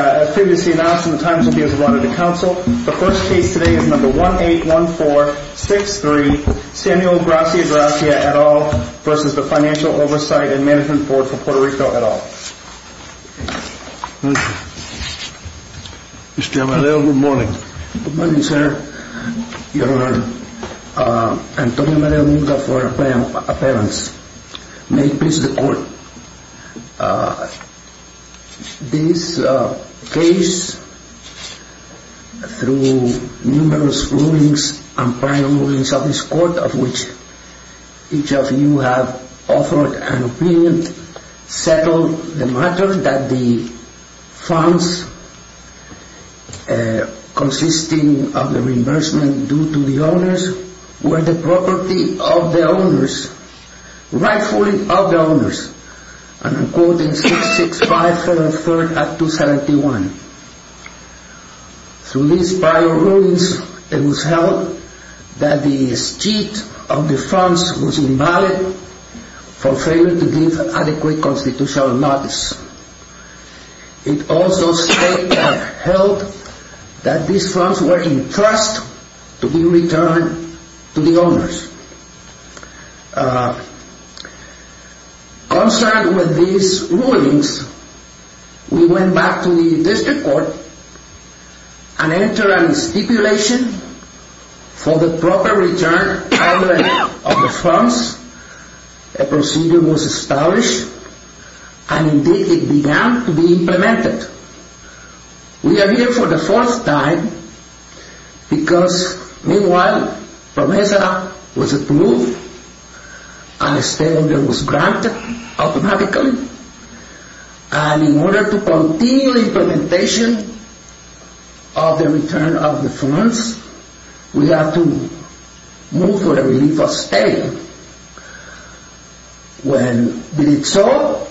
As previously announced, the times will be as one of the council. The first case today is number 181463, Samuel Gracia-Gracia et al. versus the Financial Oversight and Management Board for Puerto Rico et al. Mr. Amadeo, good morning. Good morning, sir. Your Honor. Antonio Amadeo Munga for appearance. May it please the Court. This case, through numerous rulings and prior rulings of this Court, of which each of you have offered an opinion, settled the matter that the funds consisting of the reimbursement due to the owners were the property of the owners, rightfully of the owners, and according to 665 Federal Third Act 271. Through these prior rulings, it was held that the sheet of the funds was invalid for failing to give adequate constitutional notice. It also held that these funds were in trust to be returned to the owners. Concerned with these rulings, we went back to the District Court and entered a stipulation for the proper return of the funds. A procedure was established, and indeed it began to be implemented. We are here for the fourth time because, meanwhile, PROMESA was approved and a stay order was granted automatically. And in order to continue implementation of the return of the funds, we have to move to a relief of stay. When we did so,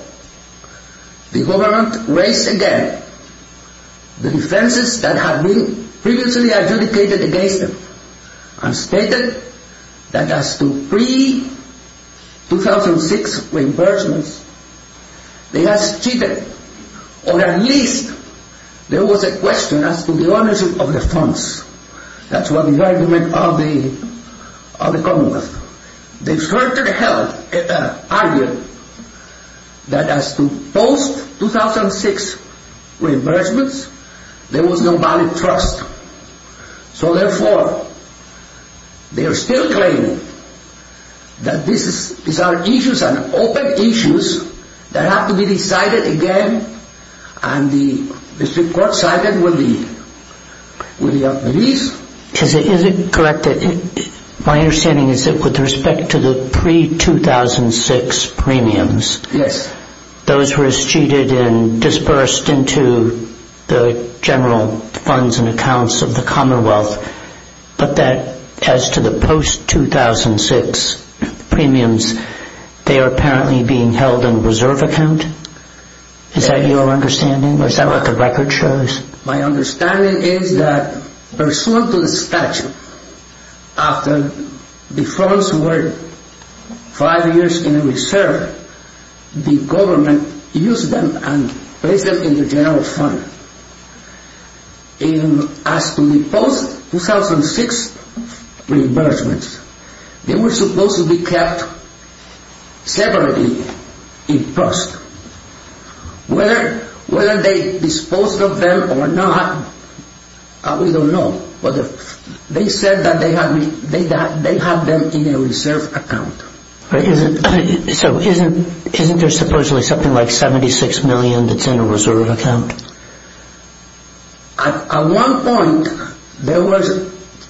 the Government raised again the defences that had been previously adjudicated against them and stated that as to pre-2006 reimbursements, they had cheated. Or at least there was a question as to the ownership of the funds. That's what the argument of the Commonwealth. They further argued that as to post-2006 reimbursements, there was no valid trust. So therefore, they are still claiming that these are issues and open issues that have to be decided again, and the District Court sided with the relief. Is it correct that my understanding is that with respect to the pre-2006 premiums, those were cheated and dispersed into the general funds and accounts of the Commonwealth, but that as to the post-2006 premiums, they are apparently being held in a reserve account? Is that your understanding, or is that what the record shows? My understanding is that, pursuant to the statute, after the funds were five years in reserve, the Government used them and placed them in the general fund. As to the post-2006 reimbursements, they were supposed to be kept separately in trust. Whether they disposed of them or not, we don't know. But they said that they have them in a reserve account. So isn't there supposedly something like 76 million that's in a reserve account? At one point, there was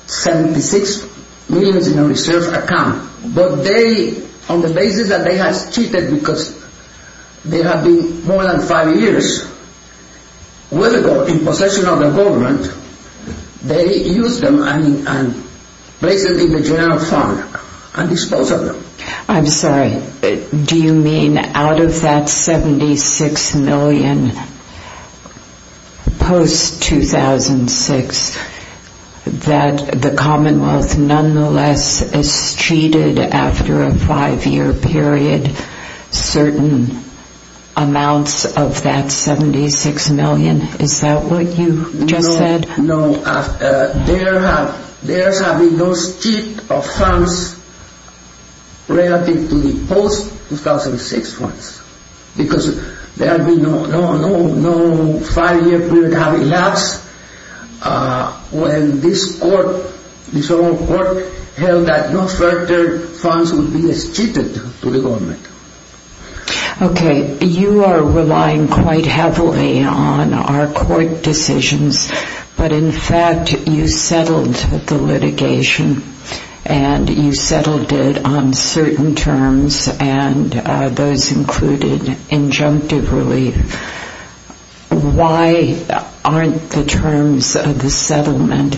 76 million in a reserve account, but on the basis that they have cheated because they have been more than five years in possession of the Government, they used them and placed them in the general fund and disposed of them. I'm sorry, do you mean out of that 76 million post-2006, that the Commonwealth nonetheless has cheated after a five-year period with certain amounts of that 76 million? Is that what you just said? No. There have been no cheat of funds relative to the post-2006 funds because no five-year period has elapsed. When this Court held that no further funds will be cheated to the Government. Okay. You are relying quite heavily on our Court decisions, but in fact you settled the litigation and you settled it on certain terms and those included injunctive relief. Why aren't the terms of the settlement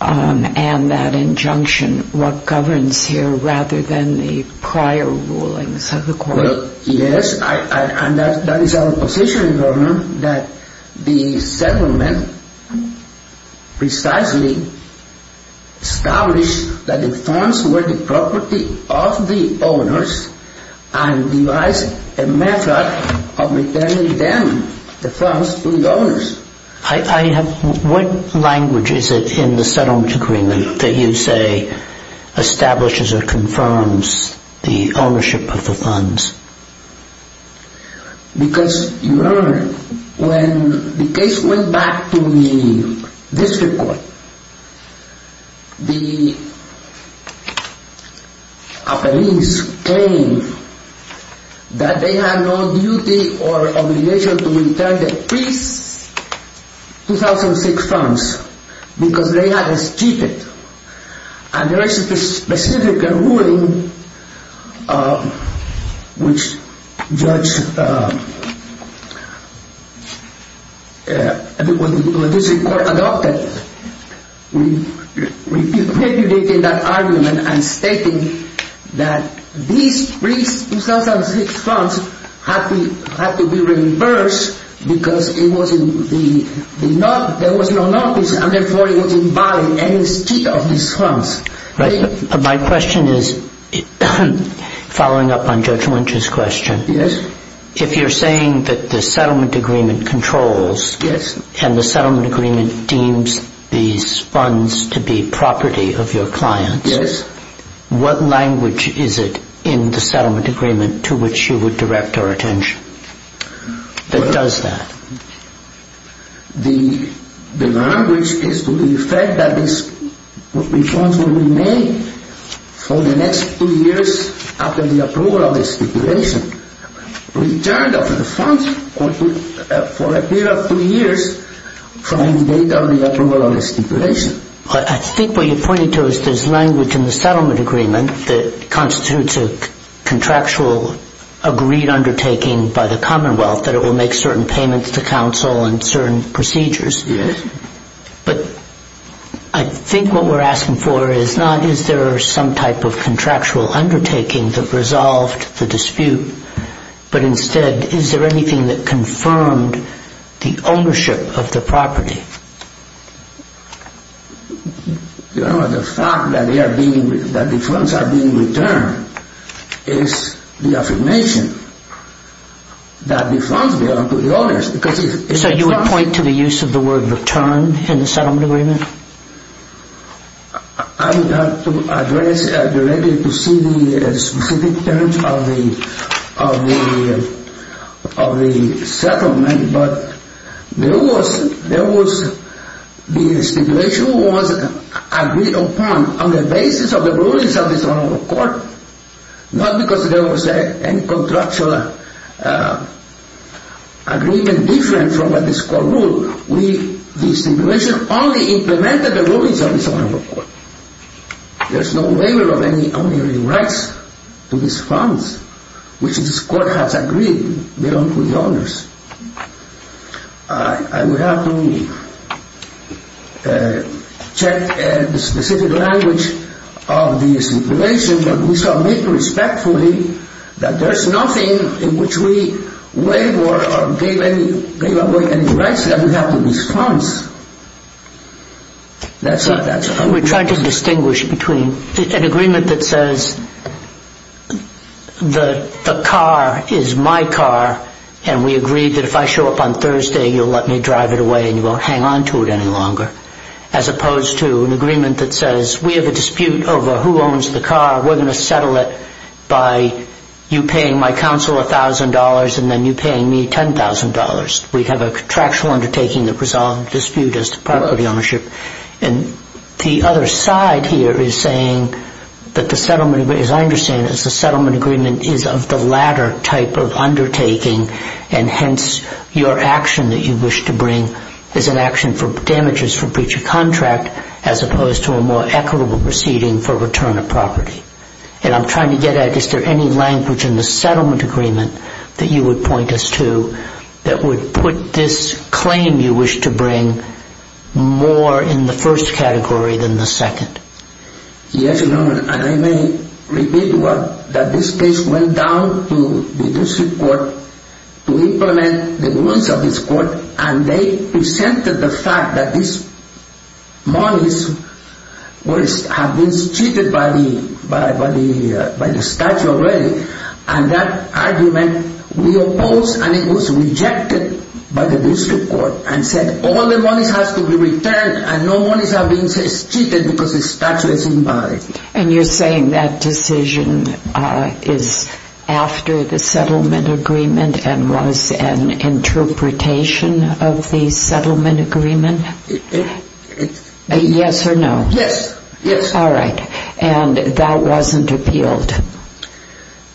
and that injunction what governs here rather than the prior rulings of the Court? Yes, and that is our position in Government that the settlement precisely established that the funds were the property of the owners and devised a method of returning them, the funds, to the owners. What language is it in the settlement agreement that you say establishes or confirms the ownership of the funds? Because you heard when the case went back to the District Court, the appellees claimed that they had no duty or obligation to return the pre-2006 funds because they had cheated. And there is a specific ruling which the District Court adopted, repudiating that argument and stating that these pre-2006 funds had to be reimbursed because there was no notice and therefore it was invalid any cheat of these funds. My question is, following up on Judge Lynch's question, if you are saying that the settlement agreement controls and the settlement agreement deems these funds to be property of your clients, what language is it in the settlement agreement to which you would direct our attention? The language is to defend that these funds will remain for the next two years after the approval of the stipulation. Return of the funds for a period of two years from the date of the approval of the stipulation. I think what you are pointing to is there is language in the settlement agreement that constitutes a contractual agreed undertaking by the Commonwealth that it will make certain payments to counsel and certain procedures. Yes. But I think what we are asking for is not, is there some type of contractual undertaking that resolved the dispute, but instead is there anything that confirmed the ownership of the property? You know, the fact that the funds are being returned is the affirmation that the funds belong to the owners. So you would point to the use of the word return in the settlement agreement? I would have to address directly to see the specific terms of the settlement, but there was, the stipulation was agreed upon on the basis of the rulings of the court, not because there was any contractual agreement different from what this court ruled. The stipulation only implemented the rulings of the court. There is no waiver of any owning rights to these funds, which this court has agreed belong to the owners. I would have to check the specific language of the stipulation, but we shall make respectfully that there is nothing in which we waive or gave away any rights that we have to these funds. We're trying to distinguish between an agreement that says the car is my car, and we agreed that if I show up on Thursday you'll let me drive it away and you won't hang on to it any longer, as opposed to an agreement that says we have a dispute over who owns the car, we're going to settle it by you paying my counsel $1,000 and then you paying me $10,000. We have a contractual undertaking that resolves the dispute as to property ownership. And the other side here is saying that the settlement, as I understand it, is the settlement agreement is of the latter type of undertaking, and hence your action that you wish to bring is an action for damages for breach of contract, as opposed to a more equitable proceeding for return of property. And I'm trying to get at is there any language in the settlement agreement that you would point us to that would put this claim you wish to bring more in the first category than the second? Yes, Your Honor, and I may repeat that this case went down to the district court to implement the rules of this court, and they presented the fact that these monies have been cheated by the statute already, and that argument we opposed, and it was rejected by the district court and said all the monies have to be returned and no monies have been cheated because the statute is invalid. And you're saying that decision is after the settlement agreement and was an interpretation of the settlement agreement? Yes or no? Yes. All right. And that wasn't appealed?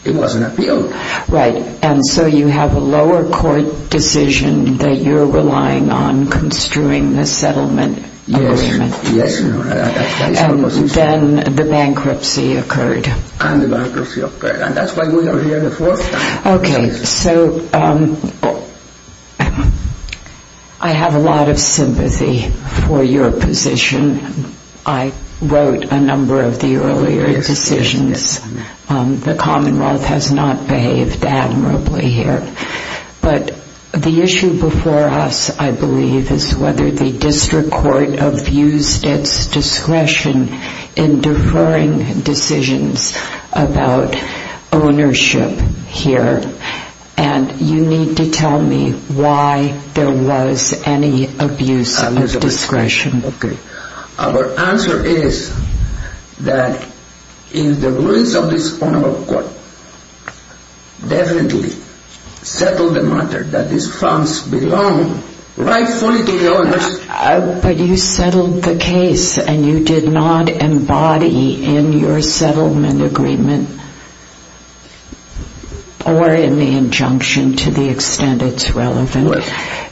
It wasn't appealed. Right. And so you have a lower court decision that you're relying on construing the settlement agreement. Yes, Your Honor. And then the bankruptcy occurred. And the bankruptcy occurred. And that's why we are here the fourth time. Okay. So I have a lot of sympathy for your position. I wrote a number of the earlier decisions. The Commonwealth has not behaved admirably here. But the issue before us, I believe, is whether the district court abused its discretion in deferring decisions about ownership here. And you need to tell me why there was any abuse of discretion. Okay. Our answer is that in the ruins of this honorable court, definitely settled the matter that these funds belong rightfully to the owners. But you settled the case and you did not embody in your settlement agreement or in the injunction, to the extent it's relevant,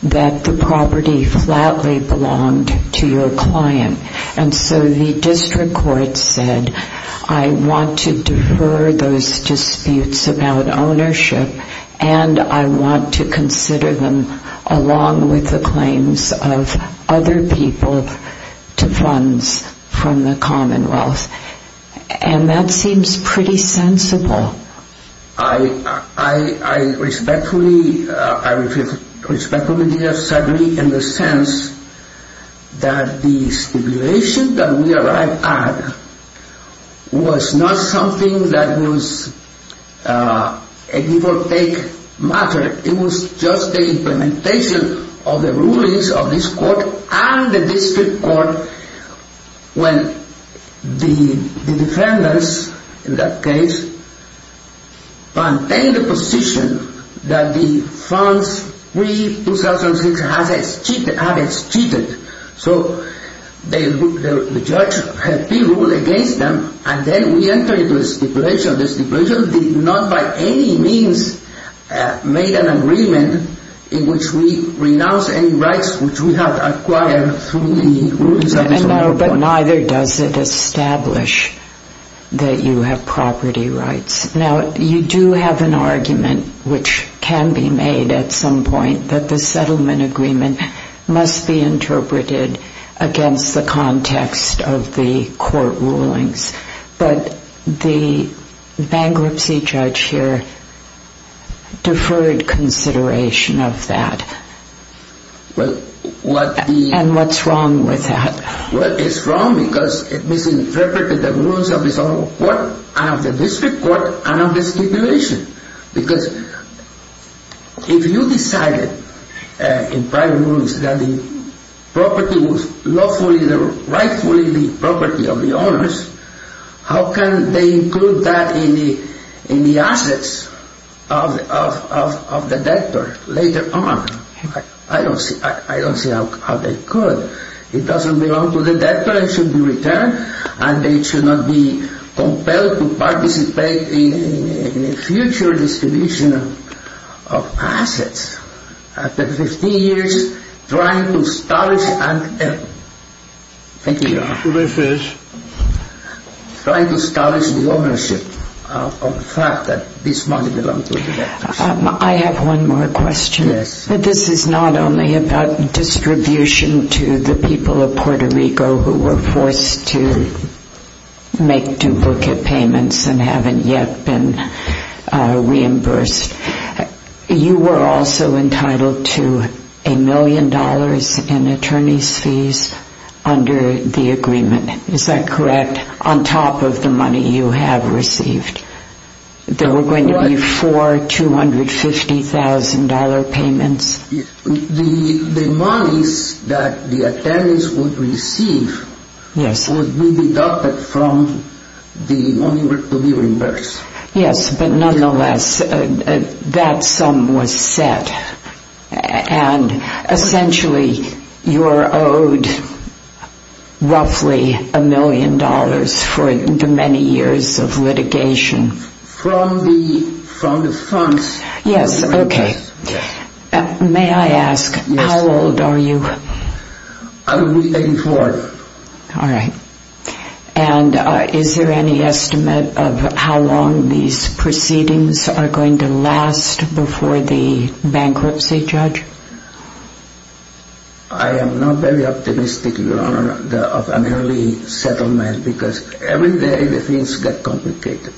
that the property flatly belonged to your client. And so the district court said, I want to defer those disputes about ownership and I want to consider them along with the claims of other people to funds from the Commonwealth. And that seems pretty sensible. I respectfully disagree in the sense that the stipulation that we arrived at was not something that was a default take matter. It was just the implementation of the rulings of this court and the district court when the defendants in that case maintained the position that the funds pre-2006 had been cheated. So the judge had pre-ruled against them and then we entered into a stipulation. The stipulation did not by any means make an agreement in which we renounce any rights which we had acquired through the rulings of this honorable court. But neither does it establish that you have property rights. Now, you do have an argument, which can be made at some point, that the settlement agreement must be interpreted against the context of the court rulings. But the bankruptcy judge here deferred consideration of that. And what's wrong with that? Well, it's wrong because it misinterpreted the rulings of this honorable court and of the district court and of the stipulation. Because if you decided in prior rulings that the property was rightfully the property of the owners, how can they include that in the assets of the debtor later on? I don't see how they could. It doesn't belong to the debtor, it should be returned and they should not be compelled to participate in a future distribution of assets after 15 years trying to establish the ownership of the fact that this money belonged to the debtor. I have one more question. Yes. This is not only about distribution to the people of Puerto Rico who were forced to make duplicate payments and haven't yet been reimbursed. You were also entitled to a million dollars in attorney's fees under the agreement. Is that correct? On top of the money you have received. There were going to be four $250,000 payments. The monies that the attorneys would receive would be deducted from the money to be reimbursed. Yes, but nonetheless, that sum was set. Essentially, you are owed roughly a million dollars for the many years of litigation. From the funds. Yes, okay. May I ask, how old are you? I'm 84. All right. Is there any estimate of how long these proceedings are going to last before the bankruptcy, Judge? I am not very optimistic, Your Honor, of an early settlement because every day the things get complicated.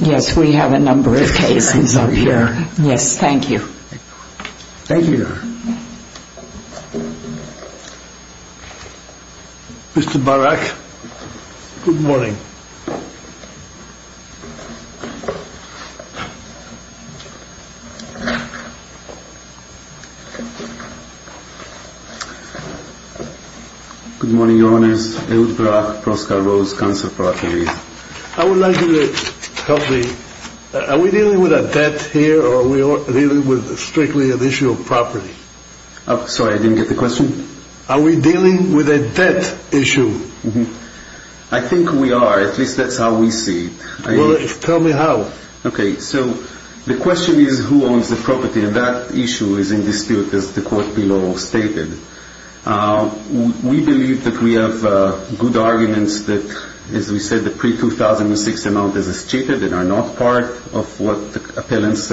Yes, we have a number of cases up here. Yes, thank you. Thank you, Your Honor. Mr. Barak, good morning. Good morning, Your Honors. Ehud Barak, Proscar Rose, Council of Properties. I would like you to help me. Are we dealing with a debt here or are we dealing with strictly an issue of property? Sorry, I didn't get the question. Are we dealing with a debt issue? I think we are. At least that's how we see it. Well, tell me how. Okay, so the question is who owns the property, and that issue is in dispute, as the court below stated. We believe that we have good arguments that, as we said, the pre-2006 amount is estimated and are not part of what the appellants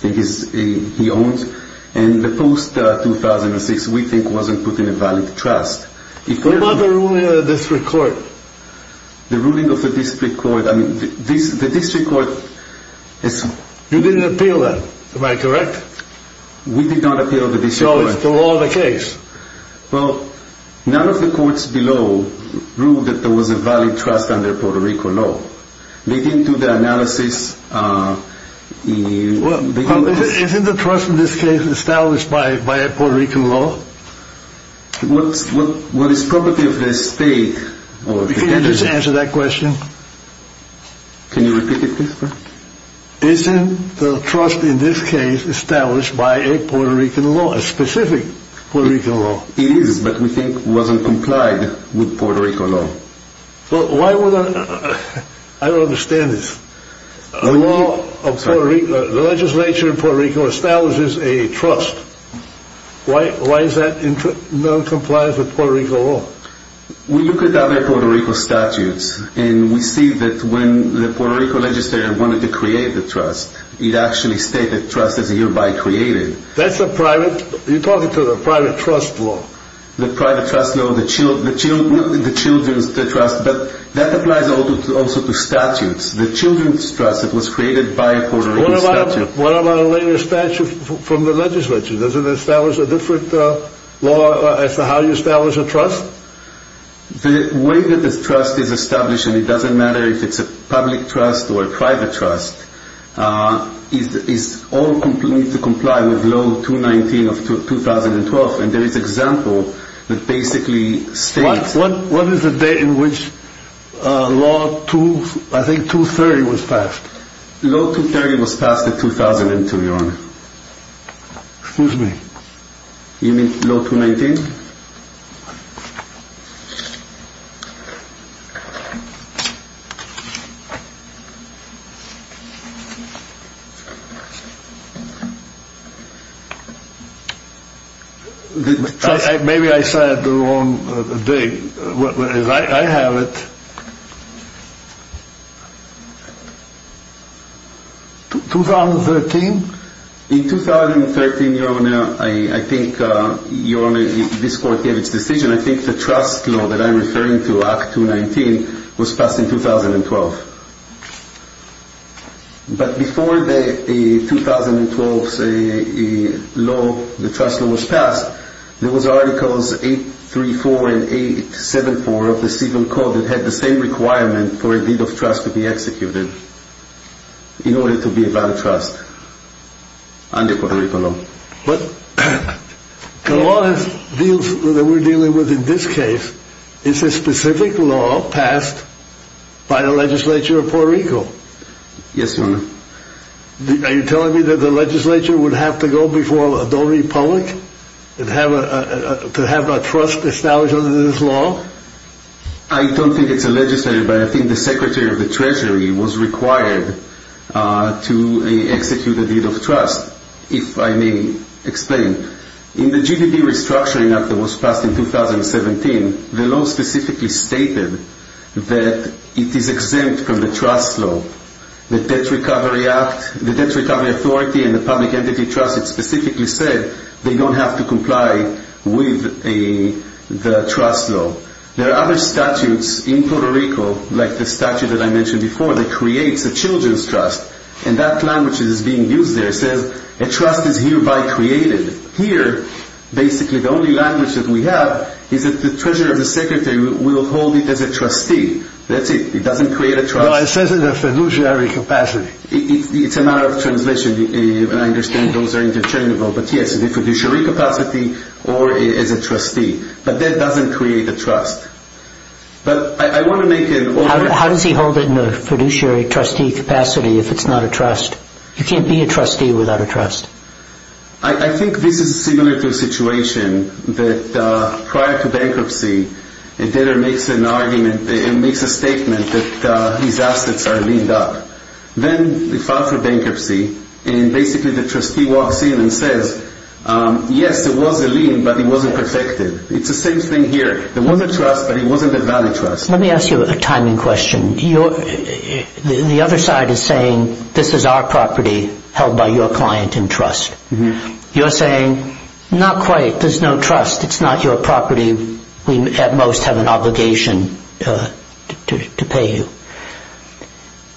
think he owns. And the post-2006 we think wasn't put in a valid trust. What about the ruling of the district court? The ruling of the district court. I mean, the district court is... You didn't appeal that, am I correct? We did not appeal the district court. So it's still all the case. Well, none of the courts below ruled that there was a valid trust under Puerto Rico law. They didn't do the analysis. Well, isn't the trust in this case established by a Puerto Rican law? What is property of the estate? Can you just answer that question? Can you repeat it, please? Isn't the trust in this case established by a Puerto Rican law, a specific Puerto Rican law? It is, but we think it wasn't complied with Puerto Rico law. I don't understand this. The legislature in Puerto Rico establishes a trust. Why is that not complied with Puerto Rico law? We look at the other Puerto Rico statutes and we see that when the Puerto Rico legislature wanted to create the trust, it actually stated trust is hereby created. That's a private, you're talking to the private trust law. The private trust law, the children's trust, but that applies also to statutes. The children's trust, it was created by a Puerto Rican statute. What about a later statute from the legislature? Doesn't it establish a different law as to how you establish a trust? The way that this trust is established, and it doesn't matter if it's a public trust or a private trust, is all complied with law 219 of 2012. There is example that basically states— What is the date in which law 230 was passed? Law 230 was passed in 2002, Your Honor. Excuse me? You mean law 219? Maybe I said it the wrong day. I have it. In 2013, Your Honor, I think Your Honor, this court gave its decision. I think the trust law that I'm referring to, Act 219, was passed in 2012. But before the 2012 law, the trust law was passed, there was articles 834 and 874 of the Civil Code that had the same requirement for a deed of trust to be executed in order to be a valid trust under Puerto Rican law. But the law that we're dealing with in this case is a specific law passed by the legislature of Puerto Rico. Yes, Your Honor. Are you telling me that the legislature would have to go before Donald E. Pollock to have a trust established under this law? I don't think it's a legislature, but I think the Secretary of the Treasury was required to execute a deed of trust, if I may explain. In the GDP Restructuring Act that was passed in 2017, the law specifically stated that it is exempt from the trust law. The Debt Recovery Authority and the Public Entity Trust specifically said they don't have to comply with the trust law. There are other statutes in Puerto Rico, like the statute that I mentioned before, that creates a children's trust. And that language that is being used there says a trust is hereby created. Here, basically, the only language that we have is that the Treasurer and the Secretary will hold it as a trustee. That's it. It doesn't create a trust. No, it says it in a fiduciary capacity. It's a matter of translation, and I understand those are interchangeable. But yes, in a fiduciary capacity or as a trustee. But that doesn't create a trust. How does he hold it in a fiduciary trustee capacity if it's not a trust? You can't be a trustee without a trust. I think this is similar to a situation that prior to bankruptcy, a debtor makes a statement that his assets are leaned up. Then we file for bankruptcy, and basically the trustee walks in and says, yes, it was a lien, but it wasn't protected. It's the same thing here. There was a trust, but it wasn't a valid trust. Let me ask you a timing question. The other side is saying, this is our property held by your client in trust. You're saying, not quite. There's no trust. It's not your property. We at most have an obligation to pay you.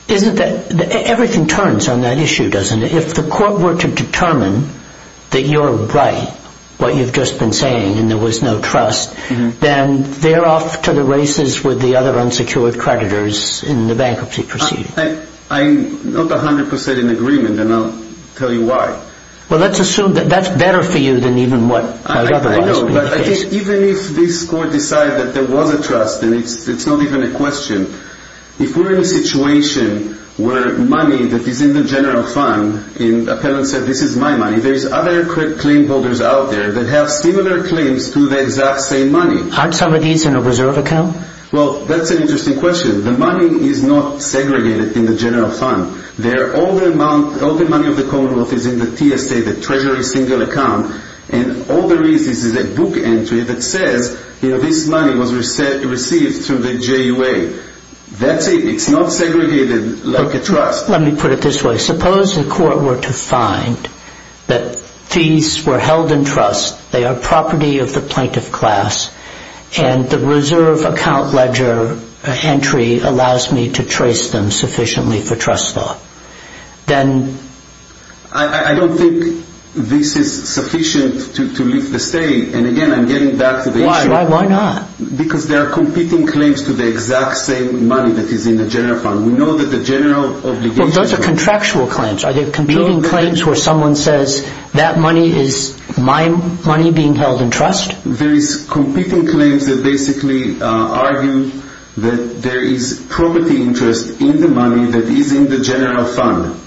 Everything turns on that issue, doesn't it? If the court were to determine that you're right, what you've just been saying, and there was no trust, then they're off to the races with the other unsecured creditors in the bankruptcy proceeding. I'm not 100 percent in agreement, and I'll tell you why. Well, let's assume that that's better for you than even what my brother has been facing. Even if this court decides that there was a trust, and it's not even a question, if we're in a situation where money that is in the general fund, and the appellant said, this is my money, there's other claim holders out there that have similar claims to the exact same money. Aren't some of these in a reserve account? Well, that's an interesting question. The money is not segregated in the general fund. All the money of the commonwealth is in the TSA, the treasury single account, and all there is is a book entry that says this money was received through the JUA. That's it. It's not segregated like a trust. Let me put it this way. Suppose the court were to find that fees were held in trust, they are property of the plaintiff class, and the reserve account ledger entry allows me to trace them sufficiently for trust law. I don't think this is sufficient to lift the state. Again, I'm getting back to the issue. Why not? Because there are competing claims to the exact same money that is in the general fund. Those are contractual claims. Are there competing claims where someone says that money is my money being held in trust? There are competing claims that basically argue that there is property interest in the money that is in the general fund.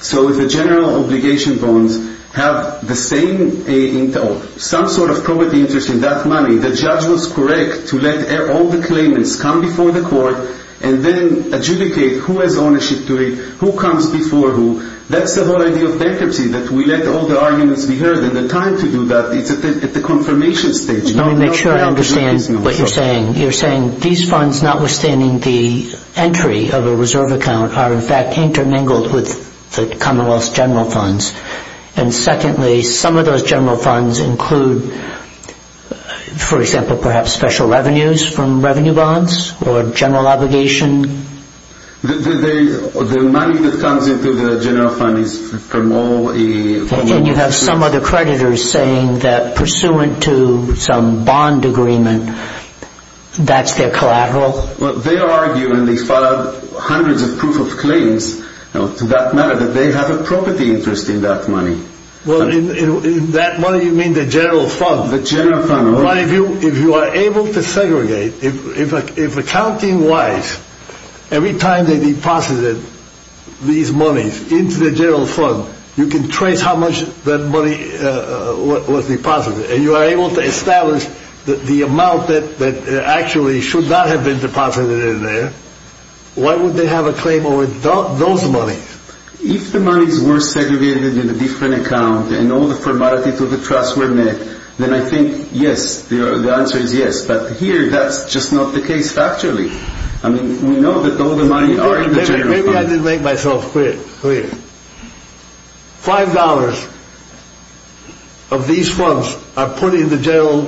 So if the general obligation bonds have some sort of property interest in that money, the judge was correct to let all the claimants come before the court and then adjudicate who has ownership duty, who comes before who. That's the whole idea of bankruptcy, that we let all the arguments be heard, and the time to do that is at the confirmation stage. Let me make sure I understand what you're saying. You're saying these funds, notwithstanding the entry of a reserve account, are in fact intermingled with the commonwealth's general funds. And secondly, some of those general funds include, for example, perhaps special revenues from revenue bonds or general obligation? The money that comes into the general fund is from all... And you have some other creditors saying that, pursuant to some bond agreement, that's their collateral? They argue, and they file hundreds of proof of claims to that matter, that they have a property interest in that money. Well, in that money you mean the general fund? The general fund. If you are able to segregate, if accounting-wise, every time they deposited these monies into the general fund, you can trace how much that money was deposited, and you are able to establish the amount that actually should not have been deposited in there, why would they have a claim over those monies? If the monies were segregated in a different account, and all the formalities of the trust were met, then I think, yes, the answer is yes. But here, that's just not the case, factually. I mean, we know that all the monies are in the general fund. Maybe I didn't make myself clear. Five dollars of these funds are put in the general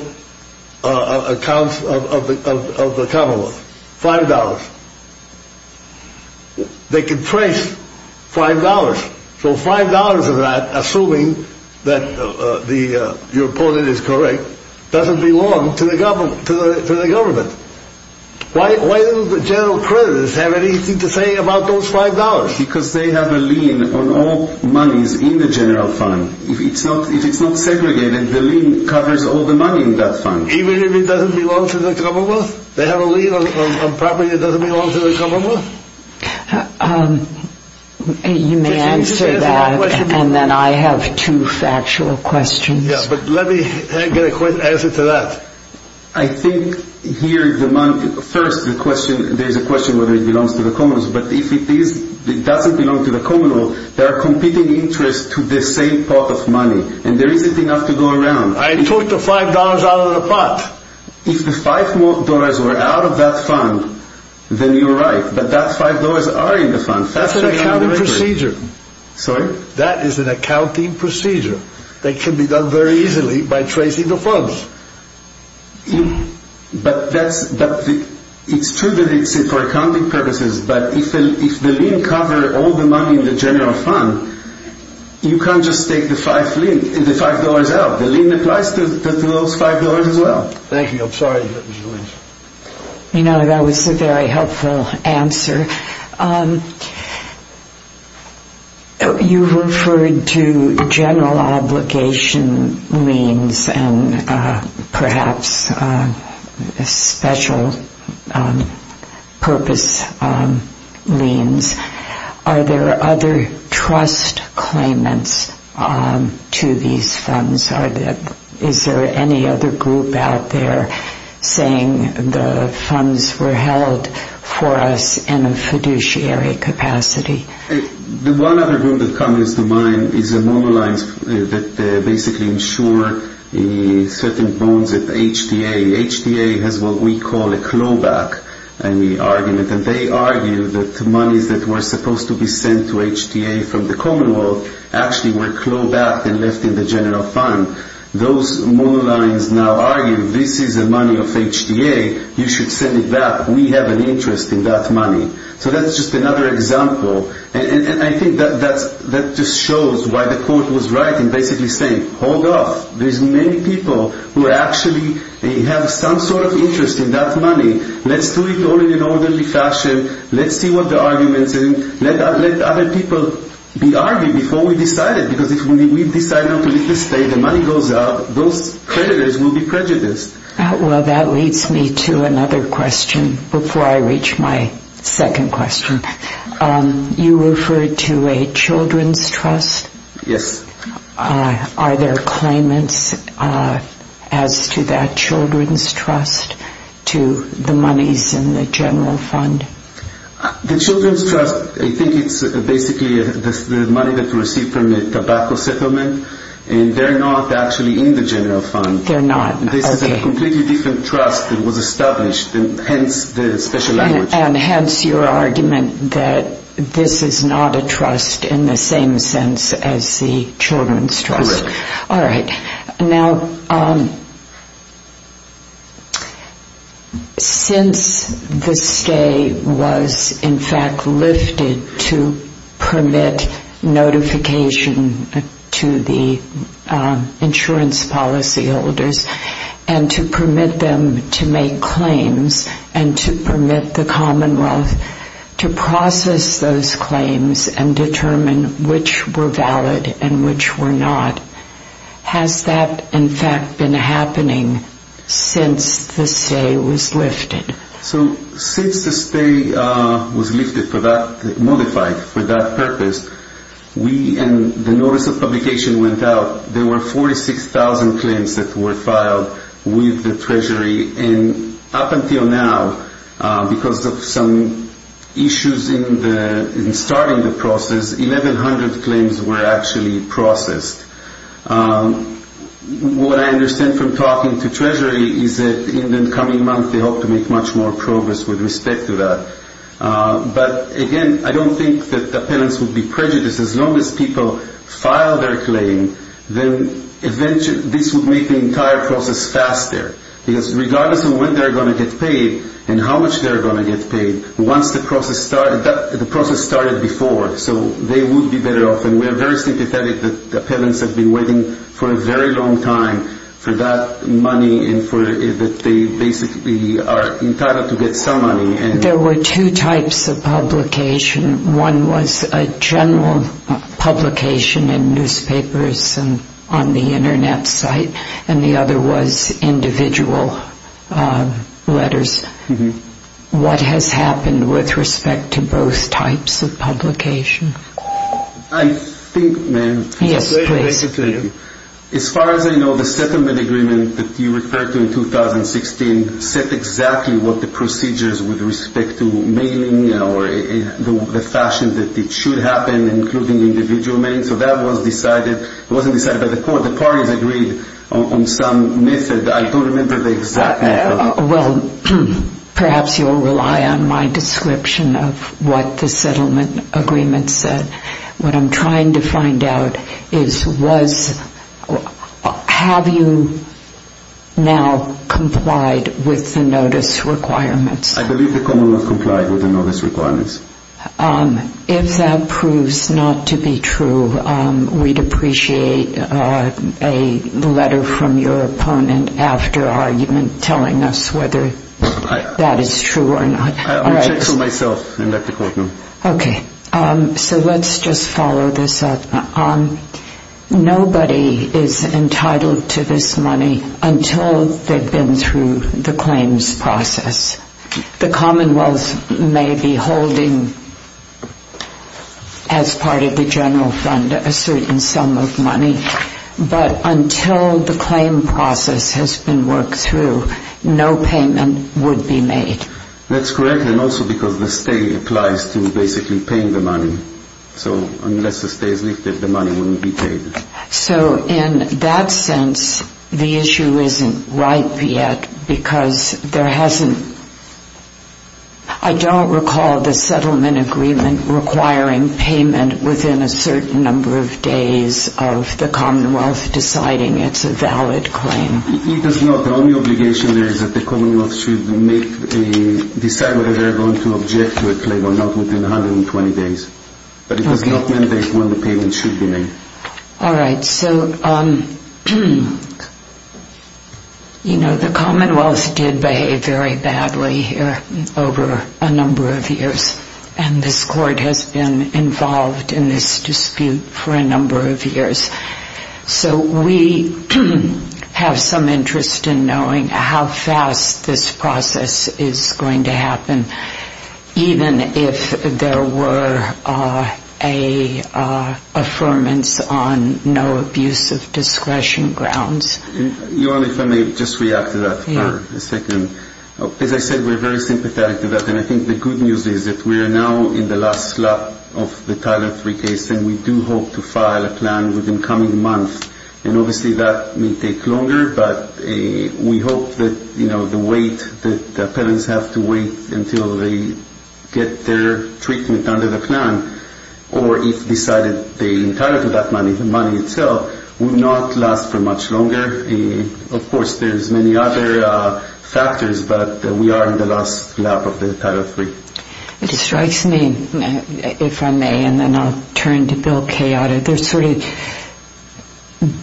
accounts of the commonwealth. Five dollars. They can trace five dollars. So five dollars of that, assuming that your opponent is correct, doesn't belong to the government. Why don't the general creditors have anything to say about those five dollars? Because they have a lien on all monies in the general fund. If it's not segregated, the lien covers all the money in that fund. Even if it doesn't belong to the commonwealth? They have a lien on property that doesn't belong to the commonwealth? You may answer that, and then I have two factual questions. Yes, but let me get a quick answer to that. I think here, first, there's a question whether it belongs to the commonwealth, but if it doesn't belong to the commonwealth, there are competing interests to the same pot of money, and there isn't enough to go around. I took the five dollars out of the pot. If the five dollars were out of that fund, then you're right, but that five dollars are in the fund. That's an accounting procedure. Sorry? That is an accounting procedure that can be done very easily by tracing the funds. But it's true that it's for accounting purposes, but if the lien covers all the money in the general fund, you can't just take the five dollars out. The lien applies to those five dollars as well. Thank you. I'm sorry. You know, that was a very helpful answer. You referred to general obligation liens and perhaps special purpose liens. Are there other trust claimants to these funds? Is there any other group out there saying the funds were held for us in a fiduciary capacity? The one other group that comes to mind is the normal lines that basically insure certain bonds at the HDA. The HDA has what we call a clawback argument, and they argue that the monies that were supposed to be sent to HDA from the commonwealth actually were clawed back and left in the general fund. Those more lines now argue this is the money of HDA. You should send it back. We have an interest in that money. So that's just another example, and I think that just shows why the court was right in basically saying hold off. There's many people who actually have some sort of interest in that money. Let's do it all in an orderly fashion. Let's see what the argument is. Let other people be argued before we decide it, because if we decide not to leave the state and money goes out, those creditors will be prejudiced. Well, that leads me to another question before I reach my second question. You referred to a children's trust. Yes. Are there claimants as to that children's trust to the monies in the general fund? The children's trust, I think it's basically the money that's received from the tobacco settlement, and they're not actually in the general fund. They're not. This is a completely different trust that was established, hence the special language. And hence your argument that this is not a trust in the same sense as the children's trust. Correct. All right. Now, since the stay was in fact lifted to permit notification to the insurance policyholders and to permit them to make claims and to permit the commonwealth to process those claims and determine which were valid and which were not, has that in fact been happening since the stay was lifted? So since the stay was lifted for that, modified for that purpose, we and the notice of publication went out. There were 46,000 claims that were filed with the Treasury. And up until now, because of some issues in starting the process, 1,100 claims were actually processed. What I understand from talking to Treasury is that in the coming month, they hope to make much more progress with respect to that. But, again, I don't think that the appellants would be prejudiced. As long as people file their claim, then this would make the entire process faster. Because regardless of when they're going to get paid and how much they're going to get paid, once the process started, the process started before, so they would be better off. And we're very sympathetic that the appellants have been waiting for a very long time for that money and that they basically are entitled to get some money. There were two types of publication. One was a general publication in newspapers and on the Internet site, and the other was individual letters. What has happened with respect to both types of publication? I think, ma'am, as far as I know, the settlement agreement that you referred to in 2016 set exactly what the procedures with respect to mailing or the fashion that it should happen, including individual mail. So that was decided. It wasn't decided by the court. The parties agreed on some method. I don't remember the exact method. Well, perhaps you'll rely on my description of what the settlement agreement said. What I'm trying to find out is was, have you now complied with the notice requirements? I believe the commonwealth complied with the notice requirements. If that proves not to be true, we'd appreciate a letter from your opponent after argument telling us whether that is true or not. I'll check for myself in that courtroom. Okay. So let's just follow this up. Nobody is entitled to this money until they've been through the claims process. The commonwealth may be holding as part of the general fund a certain sum of money, but until the claim process has been worked through, no payment would be made. That's correct, and also because the stay applies to basically paying the money. So unless the stay is lifted, the money wouldn't be paid. So in that sense, the issue isn't ripe yet because there hasn't – I don't recall the settlement agreement requiring payment within a certain number of days of the commonwealth deciding it's a valid claim. It is not. The only obligation there is that the commonwealth should decide whether they're going to object to a claim or not within 120 days, but it does not mandate when the payment should be made. All right. So the commonwealth did behave very badly here over a number of years, and this court has been involved in this dispute for a number of years. So we have some interest in knowing how fast this process is going to happen, even if there were an affirmance on no abuse of discretion grounds. Your Honor, if I may just react to that for a second. As I said, we're very sympathetic to that, and I think the good news is that we are now in the last slot of the Title III case, and we do hope to file a plan within the coming month. And obviously that may take longer, but we hope that the wait that the appellants have to wait until they get their treatment under the plan or if decided the entirety of that money, the money itself, would not last for much longer. Of course, there's many other factors, but we are in the last lap of the Title III. It strikes me, if I may, and then I'll turn to Bill Kayada, there's sort of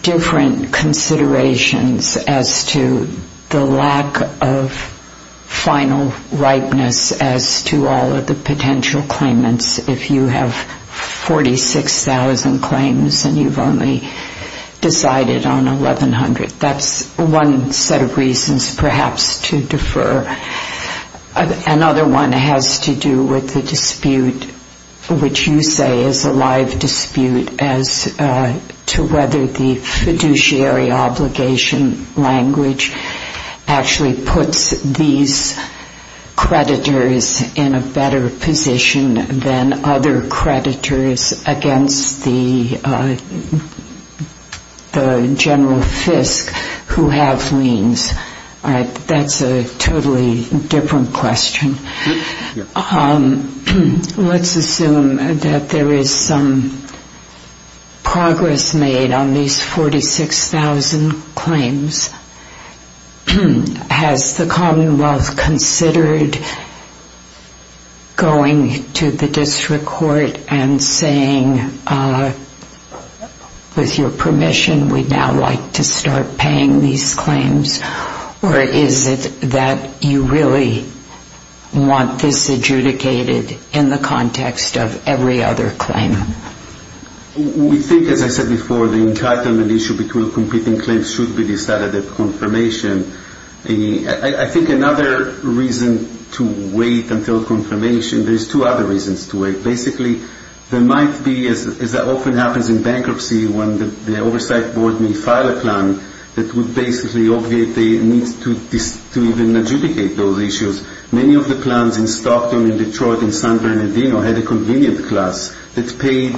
different considerations as to the lack of final ripeness as to all of the potential claimants if you have 46,000 claims and you've only decided on 1,100. That's one set of reasons perhaps to defer. Another one has to do with the dispute, which you say is a live dispute, as to whether the fiduciary obligation language actually puts these creditors in a better position than other creditors against the general fisc who have liens. All right. That's a totally different question. Let's assume that there is some progress made on these 46,000 claims. Has the Commonwealth considered going to the district court and saying, with your permission, we'd now like to start paying these claims, or is it that you really want this adjudicated in the context of every other claim? We think, as I said before, the entitlement issue between completing claims should be decided at confirmation. I think another reason to wait until confirmation, there's two other reasons to wait. Basically, there might be, as often happens in bankruptcy, when the oversight board may file a plan that would basically obviate the need to even adjudicate those issues. Many of the plans in Stockton and Detroit and San Bernardino had a convenient class that paid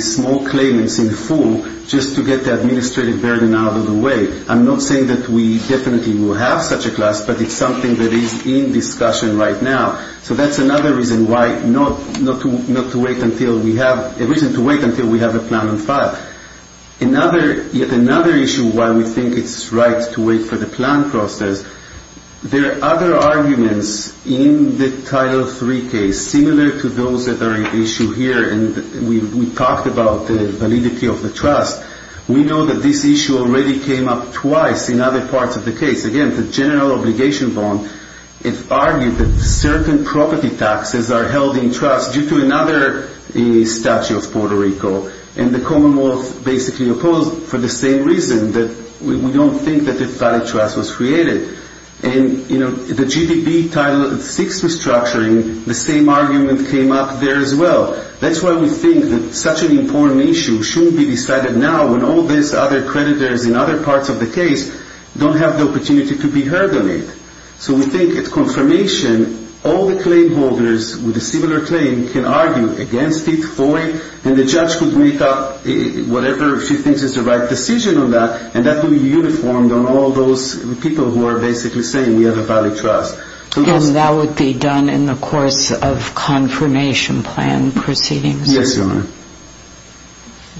small claimants in full just to get the administrative burden out of the way. I'm not saying that we definitely will have such a class, but it's something that is in discussion right now. That's another reason to wait until we have a plan in file. Yet another issue why we think it's right to wait for the plan process, there are other arguments in the Title III case similar to those that are at issue here. We talked about the validity of the trust. We know that this issue already came up twice in other parts of the case. Again, the general obligation bond, it argued that certain property taxes are held in trust due to another statute of Puerto Rico. The Commonwealth basically opposed for the same reason, that we don't think that a valid trust was created. The GDP Title VI restructuring, the same argument came up there as well. That's why we think that such an important issue shouldn't be decided now when all these other creditors in other parts of the case don't have the opportunity to be heard on it. So we think it's confirmation. All the claim holders with a similar claim can argue against it fully, and the judge could make up whatever she thinks is the right decision on that, and that will be uniformed on all those people who are basically saying we have a valid trust. And that would be done in the course of confirmation plan proceedings? Yes, Your Honor.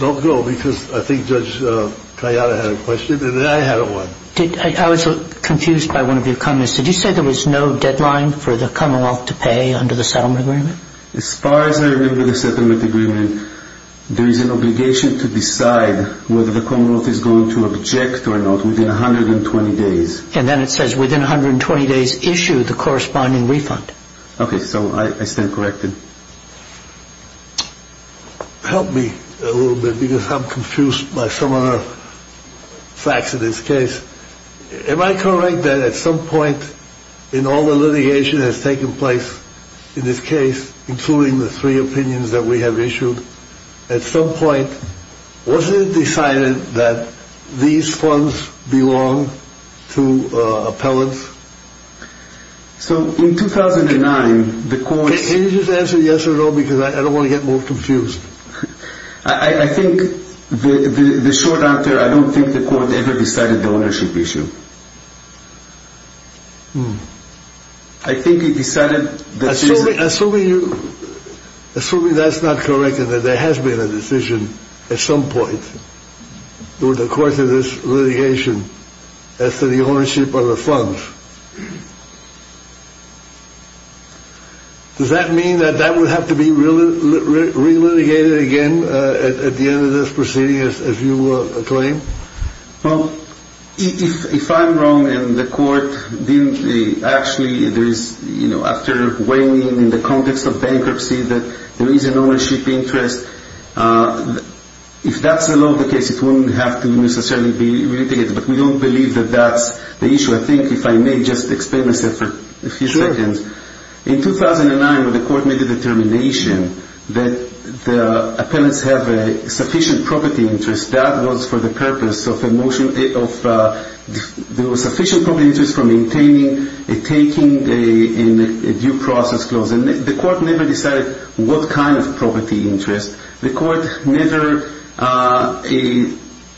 Don't go, because I think Judge Kayada had a question, and then I had one. I was confused by one of your comments. Did you say there was no deadline for the Commonwealth to pay under the settlement agreement? As far as I remember the settlement agreement, there is an obligation to decide whether the Commonwealth is going to object or not within 120 days. And then it says within 120 days issue the corresponding refund. Okay, so I stand corrected. Help me a little bit, because I'm confused by some of the facts in this case. Am I correct that at some point in all the litigation that has taken place in this case, including the three opinions that we have issued, at some point wasn't it decided that these funds belong to appellants? So in 2009 the courts... Can you just answer yes or no, because I don't want to get more confused. I think the short answer, I don't think the court ever decided the ownership issue. I think it decided... Assuming that's not correct and that there has been a decision at some point in the course of this litigation as to the ownership of the funds, does that mean that that would have to be re-litigated again at the end of this proceeding as you claim? Well, if I'm wrong and the court didn't... Actually, after weighing in the context of bankruptcy that there is an ownership interest, if that's the law of the case, it wouldn't have to necessarily be re-litigated, but we don't believe that that's the issue. I think if I may just explain myself for a few seconds. Sure. In 2009 when the court made the determination that the appellants have a sufficient property interest, that was for the purpose of a motion of sufficient property interest for maintaining and taking a due process clause. The court never decided what kind of property interest. The court never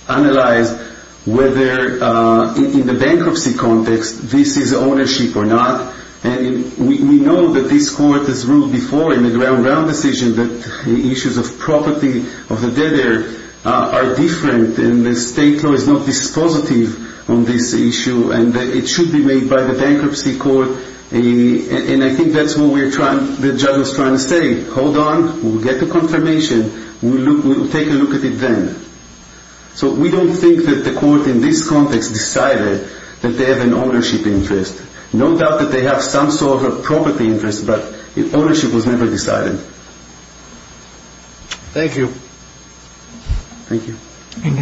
analyzed whether in the bankruptcy context this is ownership or not. We know that this court has ruled before in the ground round decision that issues of property, of the debtor, are different and the state law is not dispositive on this issue and it should be made by the bankruptcy court. And I think that's what the judge was trying to say. Hold on. We'll get the confirmation. We'll take a look at it then. So we don't think that the court in this context decided that they have an ownership interest. No doubt that they have some sort of a property interest, but ownership was never decided. Thank you. Thank you.